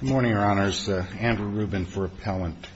Good morning, Your Honors. Andrew Rubin for Appellant.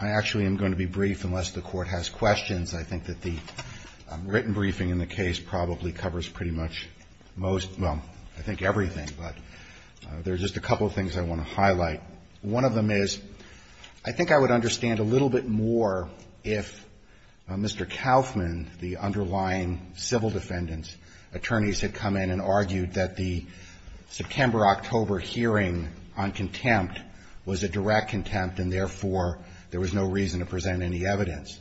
I actually am going to be brief unless the Court has questions. I think that the written briefing in the case probably covers pretty much most, well, I think everything, but there's just a couple of things I want to highlight. One of them is, I think I would understand a little bit more if Mr. Kaufman, the underlying civil defendants, attorneys had come in and argued that the September-October hearing on contempt was a direct contempt and, therefore, there was no reason to present any evidence.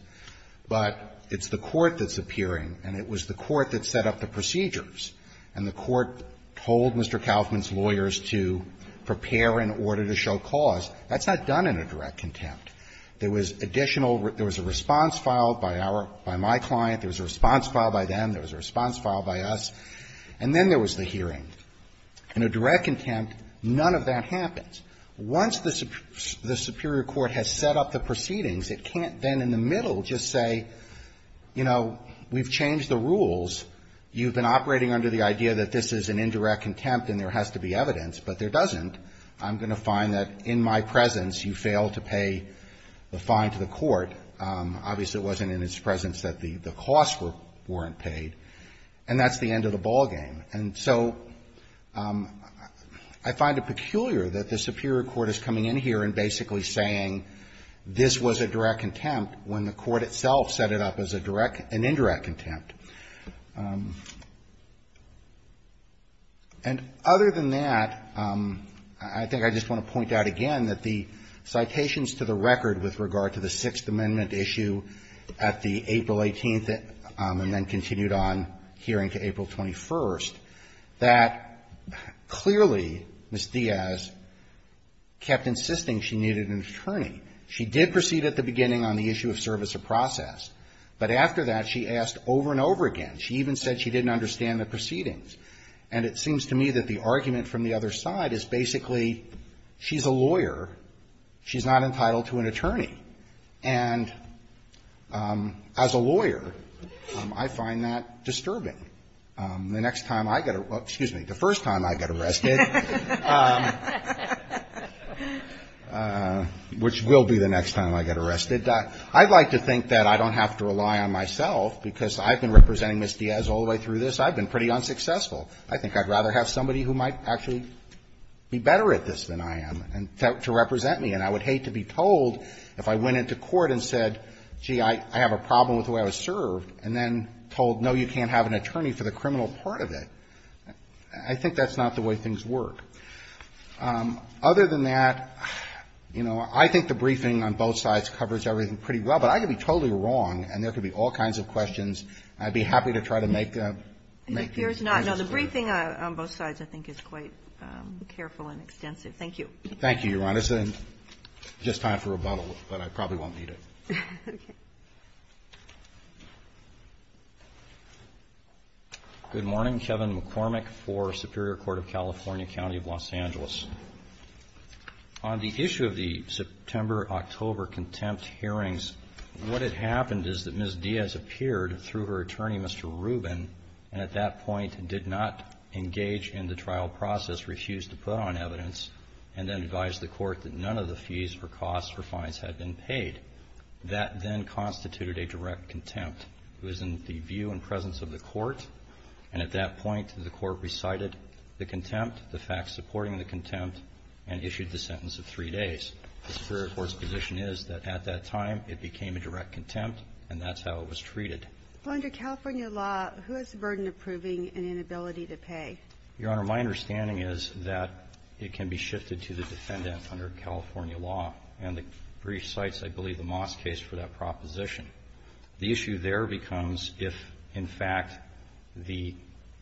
But it's the Court that's appearing, and it was the Court that set up the procedures. And the Court told Mr. Kaufman's lawyers to prepare in order to show cause. That's not done in a direct contempt. There was additional, there was a response filed by our, by my client, there was a response filed by them, there was a response filed by us, and then there was the hearing. In a direct contempt, none of that happens. Once the Superior Court has set up the proceedings, it can't then in the middle just say, you know, we've changed the rules, you've been operating under the idea that this is an indirect contempt and there has to be evidence. But there doesn't. I'm going to find that in my presence you failed to pay the fine to the Court. Obviously, it wasn't in its presence that the costs weren't paid. And that's the end of the ballgame. And so I find it peculiar that the Superior Court is coming in here and basically saying this was a direct contempt when the Court itself set it up as a direct, an indirect contempt. And other than that, I think I just want to point out again that the citations to the record with regard to the Sixth Amendment issue at the April 18th and then continued on hearing to April 21st, that clearly Ms. Diaz kept insisting she needed an attorney. She did proceed at the beginning on the issue of service of process. But after that, she asked over and over again. She even said she didn't understand the proceedings. And it seems to me that the argument from the other side is basically she's a lawyer. She's not entitled to an attorney. And as a lawyer, I find that disturbing. The next time I get arrested, excuse me, the first time I get arrested, which will be the next time I get arrested, I'd like to think that I don't have to rely on myself because I've been representing Ms. Diaz all the way through this. I've been pretty unsuccessful. I think I'd rather have somebody who might actually be better at this than I am to represent me. And I would hate to be told if I went into court and said, gee, I have a problem with the way I was served, and then told, no, you can't have an attorney for the criminal part of it. I think that's not the way things work. Other than that, you know, I think the briefing on both sides covers everything pretty well. But I could be totally wrong, and there could be all kinds of questions. I'd be happy to try to make them. It appears not. No, the briefing on both sides, I think, is quite careful and extensive. Thank you. Thank you, Your Honor. It's just time for rebuttal, but I probably won't need it. Okay. Good morning. Kevin McCormick for Superior Court of California County of Los Angeles. On the issue of the September-October contempt hearings, what had happened is that Ms. Diaz appeared through her attorney, Mr. Rubin, and at that point did not engage in the trial process, refused to put on evidence, and then advised the court that none of the fees or costs for fines had been paid. That then constituted a direct contempt. It was in the view and presence of the court, and at that point the court recited the contempt, the facts supporting the contempt, and issued the sentence of three days. The Superior Court's position is that at that time it became a direct contempt, and that's how it was treated. Well, under California law, who has the burden of proving an inability to pay? Your Honor, my understanding is that it can be shifted to the defendant under California law, and the brief cites, I believe, the Moss case for that proposition. The issue there becomes if, in fact, the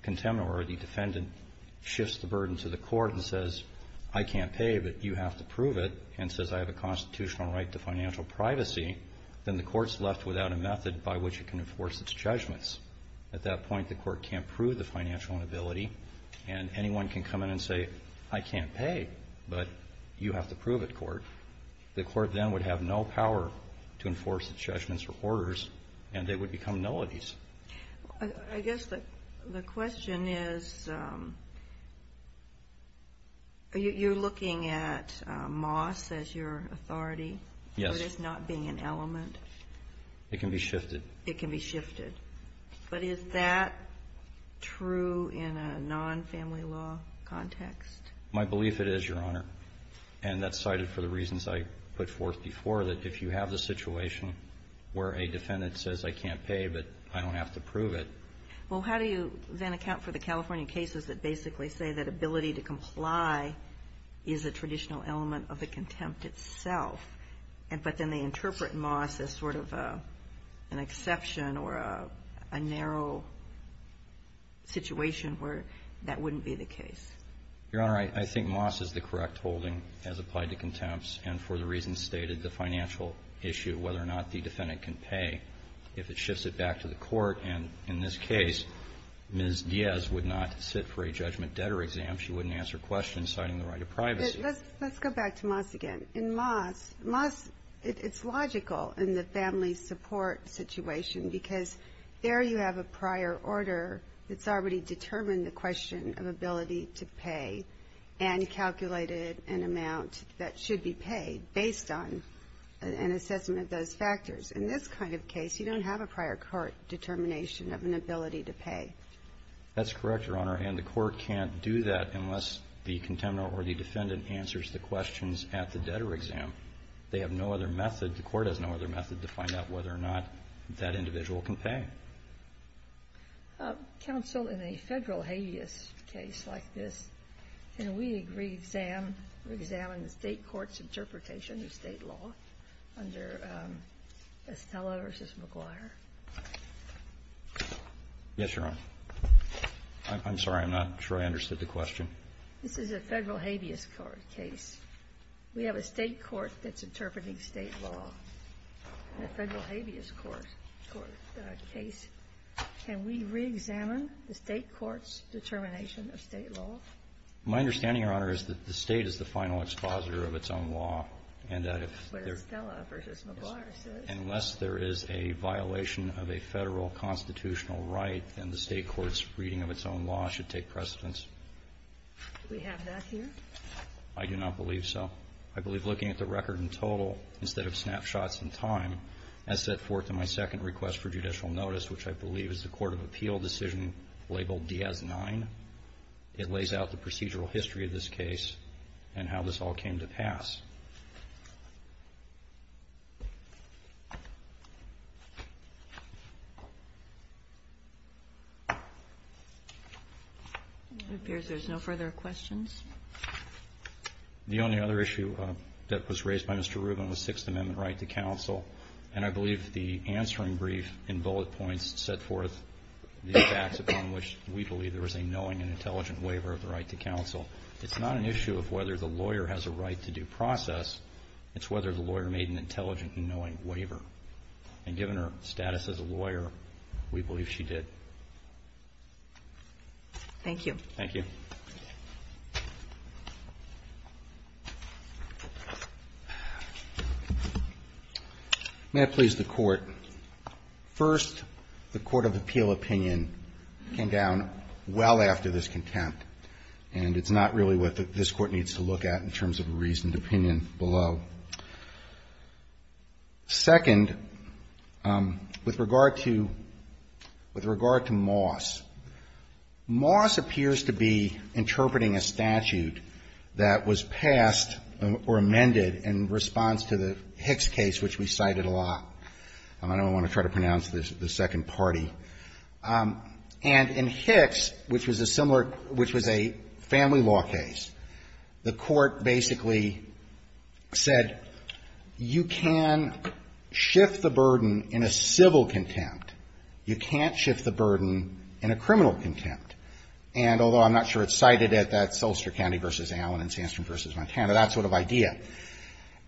contempt or the defendant shifts the burden to the court and says, I can't pay, but you have to prove it, and says I have a constitutional right to financial privacy, then the court's left without a method by which it can enforce its judgments. At that point, the court can't prove the financial inability, and anyone can come in and say, I can't pay, but you have to prove it, court. The court then would have no power to enforce its judgments or orders, and they would become nullities. I guess the question is, you're looking at Moss as your authority? Yes. It is not being an element? It can be shifted. It can be shifted. But is that true in a non-family law context? My belief it is, Your Honor. And that's cited for the reasons I put forth before, that if you have the situation where a defendant says, I can't pay, but I don't have to prove it. Well, how do you then account for the California cases that basically say that ability to comply is a traditional element of the contempt itself, but then they interpret Moss as sort of an exception or a narrow situation where that wouldn't be the case? Your Honor, I think Moss is the correct holding as applied to contempts, and for the reasons stated, the financial issue, whether or not the defendant can pay, if it shifts it back to the court. And in this case, Ms. Diaz would not sit for a judgment debtor exam. She wouldn't answer questions citing the right of privacy. Let's go back to Moss again. In Moss, it's logical in the family support situation, because there you have a prior order that's already determined the question of ability to pay and calculated an amount that should be paid based on an assessment of those factors. In this kind of case, you don't have a prior court determination of an ability to pay. That's correct, Your Honor, and the court can't do that unless the contemporary or the defendant answers the questions at the debtor exam. They have no other method. The court has no other method to find out whether or not that individual can pay. Counsel, in a federal habeas case like this, can we examine the state court's interpretation of state law under Estella v. McGuire? Yes, Your Honor. I'm sorry, I'm not sure I understood the question. This is a federal habeas court case. We have a state court that's habeas. Can we re-examine the state court's determination of state law? My understanding, Your Honor, is that the state is the final expositor of its own law. That's what Estella v. McGuire says. Unless there is a violation of a federal constitutional right, then the state court's reading of its own law should take precedence. Do we have that here? I do not believe so. I believe looking at the record in total instead of which I believe is the Court of Appeal decision labeled Diaz 9, it lays out the procedural history of this case and how this all came to pass. It appears there's no further questions. The only other issue that was raised by Mr. Rubin was Sixth Amendment right to counsel. It's not an issue of whether the lawyer has a right to due process. It's whether the lawyer made an intelligent and knowing waiver. And given her status as a lawyer, we believe she did. Thank you. Thank you. May it please the Court. First, the Court of Appeal opinion came down well after this contempt. And it's not really what this Court needs to look at in terms of a reasoned opinion below. Second, with regard to Moss, Moss appears to be interpreting a statute that was passed or amended in response to the Hicks case, which we cited a lot. I don't want to try to pronounce the second party. And in Hicks, which was a similar – which was a family law case, the Court basically said you can shift the burden in a civil contempt. You can't shift the burden in a criminal contempt. And although I'm not sure it's cited at that Solster County v. Allen and Sandstrom v. Montana, that sort of idea.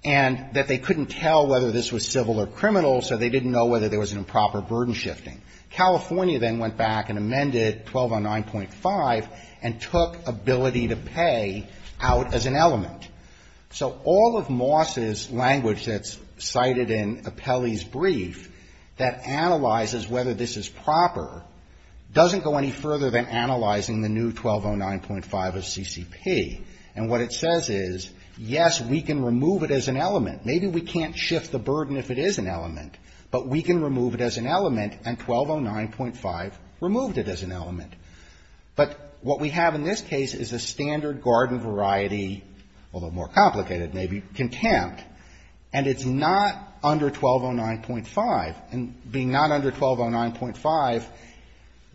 And that they couldn't tell whether this was civil or criminal, so they didn't know whether there was an improper burden shifting. California then went back and amended 1209.5 and took ability to pay out as an element. So all of Moss's language that's cited in Apelli's brief that analyzes whether this is proper doesn't go any further than analyzing the new 1209.5 of CCP. And what it says is, yes, we can remove it as an element. Maybe we can't shift the burden if it is an element, but we can remove it as an element, and 1209.5 removed it as an element. But what we have in this case is a standard garden variety, although more complicated maybe, contempt. And it's not under 1209.5. And being not under 1209.5,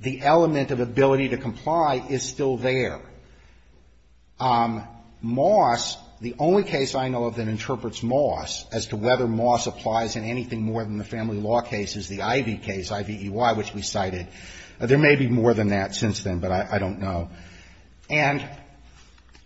the element of ability to comply is still there. Moss, the only case I know of that interprets Moss as to whether Moss applies in anything more than the family law case is the Ivey case, Ivey E.Y., which we cited. There may be more than that since then, but I don't know. And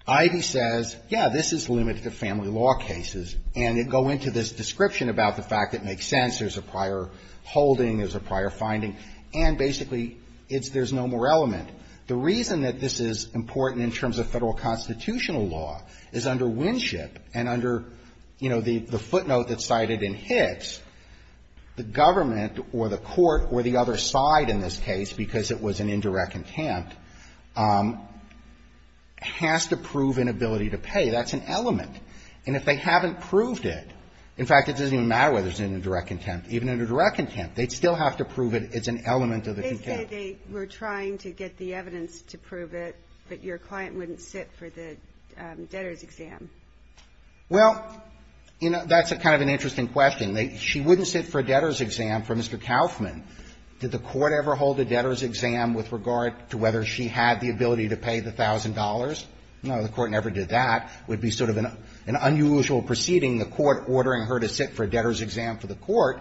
Ivey says, yes, this is limited to family law cases, and they go into this description about the fact it makes sense. There's a prior holding. There's a prior finding. And basically, it's there's no more element. The reason that this is important in terms of Federal constitutional law is under Winship and under, you know, the footnote that's cited in Hicks, the government or the court or the other side in this case, because it was an indirect contempt, has to prove an ability to pay. That's an element. And if they haven't proved it, in fact, it doesn't even matter whether it's an indirect contempt. Even under direct contempt, they'd still have to prove it as an element of the contempt. They say they were trying to get the evidence to prove it, but your client wouldn't sit for the debtor's exam. Well, you know, that's a kind of an interesting question. She wouldn't sit for a debtor's exam for Mr. Kauffman. Did the court ever hold a debtor's exam with regard to whether she had the ability to pay the $1,000? No, the court never did that. It would be sort of an unusual proceeding, the court ordering her to sit for a debtor's exam for the court.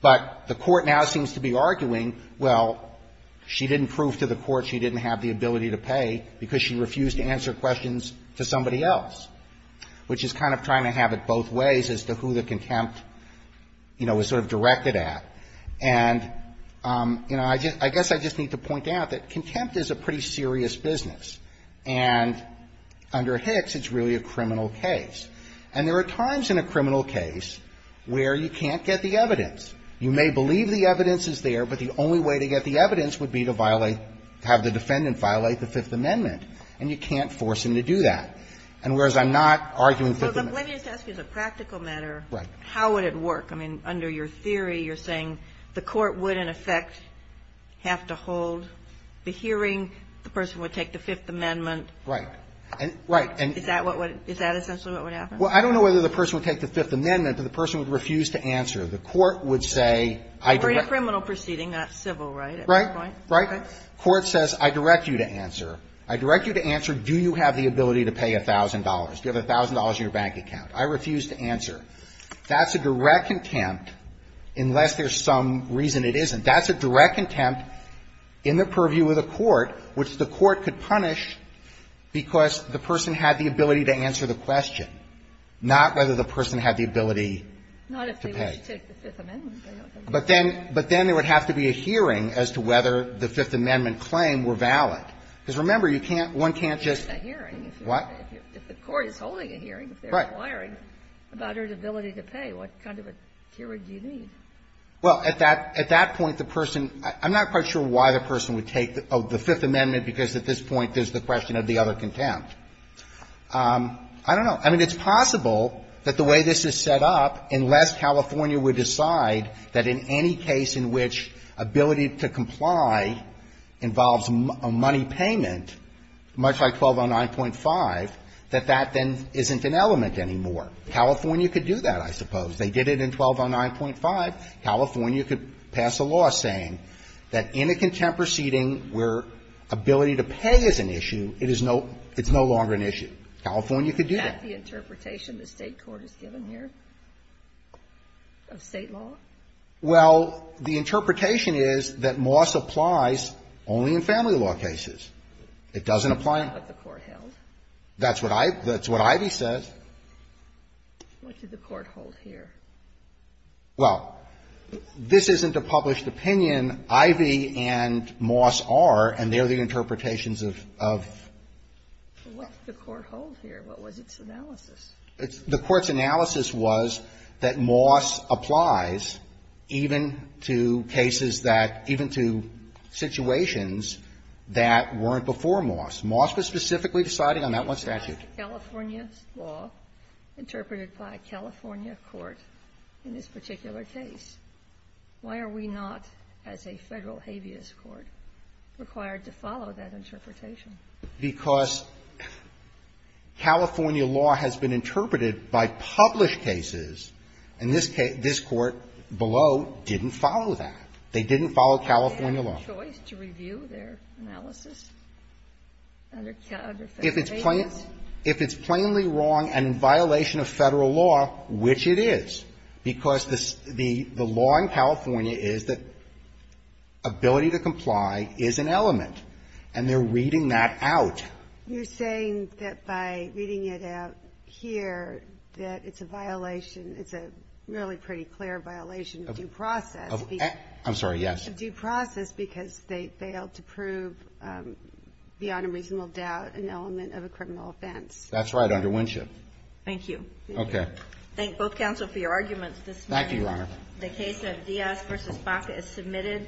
But the court now seems to be arguing, well, she didn't prove to the court she didn't have the ability to pay because she refused to answer questions to somebody else, which is kind of trying to have it both ways as to who the contempt, you know, was sort of directed at. And, you know, I guess I just need to point out that contempt is a pretty serious business. And under Hicks, it's really a criminal case. And there are times in a criminal case where you can't get the evidence. You may believe the evidence is there, but the only way to get the evidence would be to violate, have the defendant violate the Fifth Amendment. And you can't force him to do that. And whereas I'm not arguing Fifth Amendment. But let me just ask you as a practical matter. Right. How would it work? I mean, under your theory, you're saying the court would, in effect, have to hold the hearing, the person would take the Fifth Amendment. Right. Right. And is that what would – is that essentially what would happen? Well, I don't know whether the person would take the Fifth Amendment or the person would refuse to answer. The court would say I direct – Right. Right. Court says I direct you to answer. I direct you to answer, do you have the ability to pay $1,000? Do you have $1,000 in your bank account? I refuse to answer. That's a direct contempt, unless there's some reason it isn't. That's a direct contempt in the purview of the court, which the court could punish because the person had the ability to answer the question, not whether the person had the ability to pay. Not if they would take the Fifth Amendment. But then – but then there would have to be a hearing as to whether the Fifth Amendment claims were valid. Because remember, you can't – one can't just – A hearing. What? If the court is holding a hearing. Right. If they're inquiring about her ability to pay, what kind of a hearing do you need? Well, at that – at that point, the person – I'm not quite sure why the person would take the Fifth Amendment because at this point there's the question of the other contempt. I don't know. I mean, it's possible that the way this is set up, unless California would decide that in any case in which ability to comply involves a money payment, much like 1209.5, that that then isn't an element anymore. California could do that, I suppose. They did it in 1209.5. California could pass a law saying that in a contempt proceeding where ability to pay is an issue, it is no – it's no longer an issue. California could do that. Isn't that the interpretation the State court has given here of State law? Well, the interpretation is that Moss applies only in family law cases. It doesn't apply – But the court held. That's what I – that's what Ivey says. What did the court hold here? Well, this isn't a published opinion. Ivey and Moss are, and they're the interpretations of – of – What did the court hold here? What was its analysis? The court's analysis was that Moss applies even to cases that – even to situations that weren't before Moss. Moss was specifically deciding on that one statute. But that's California's law, interpreted by a California court in this particular case. Why are we not, as a Federal habeas court, required to follow that interpretation? Because California law has been interpreted by published cases, and this case – this court below didn't follow that. They didn't follow California law. Do they have a choice to review their analysis under Federal habeas? If it's plainly – if it's plainly wrong and in violation of Federal law, which it is, because the law in California is that ability to comply is an element, and they're reading that out. You're saying that by reading it out here, that it's a violation – it's a really pretty clear violation of due process. Of – I'm sorry, yes. Due process because they failed to prove beyond a reasonable doubt an element of a criminal offense. That's right, under Winship. Thank you. Okay. Thank both counsel for your arguments this morning. Thank you, Your Honor. The case of Diaz v. Baca is submitted.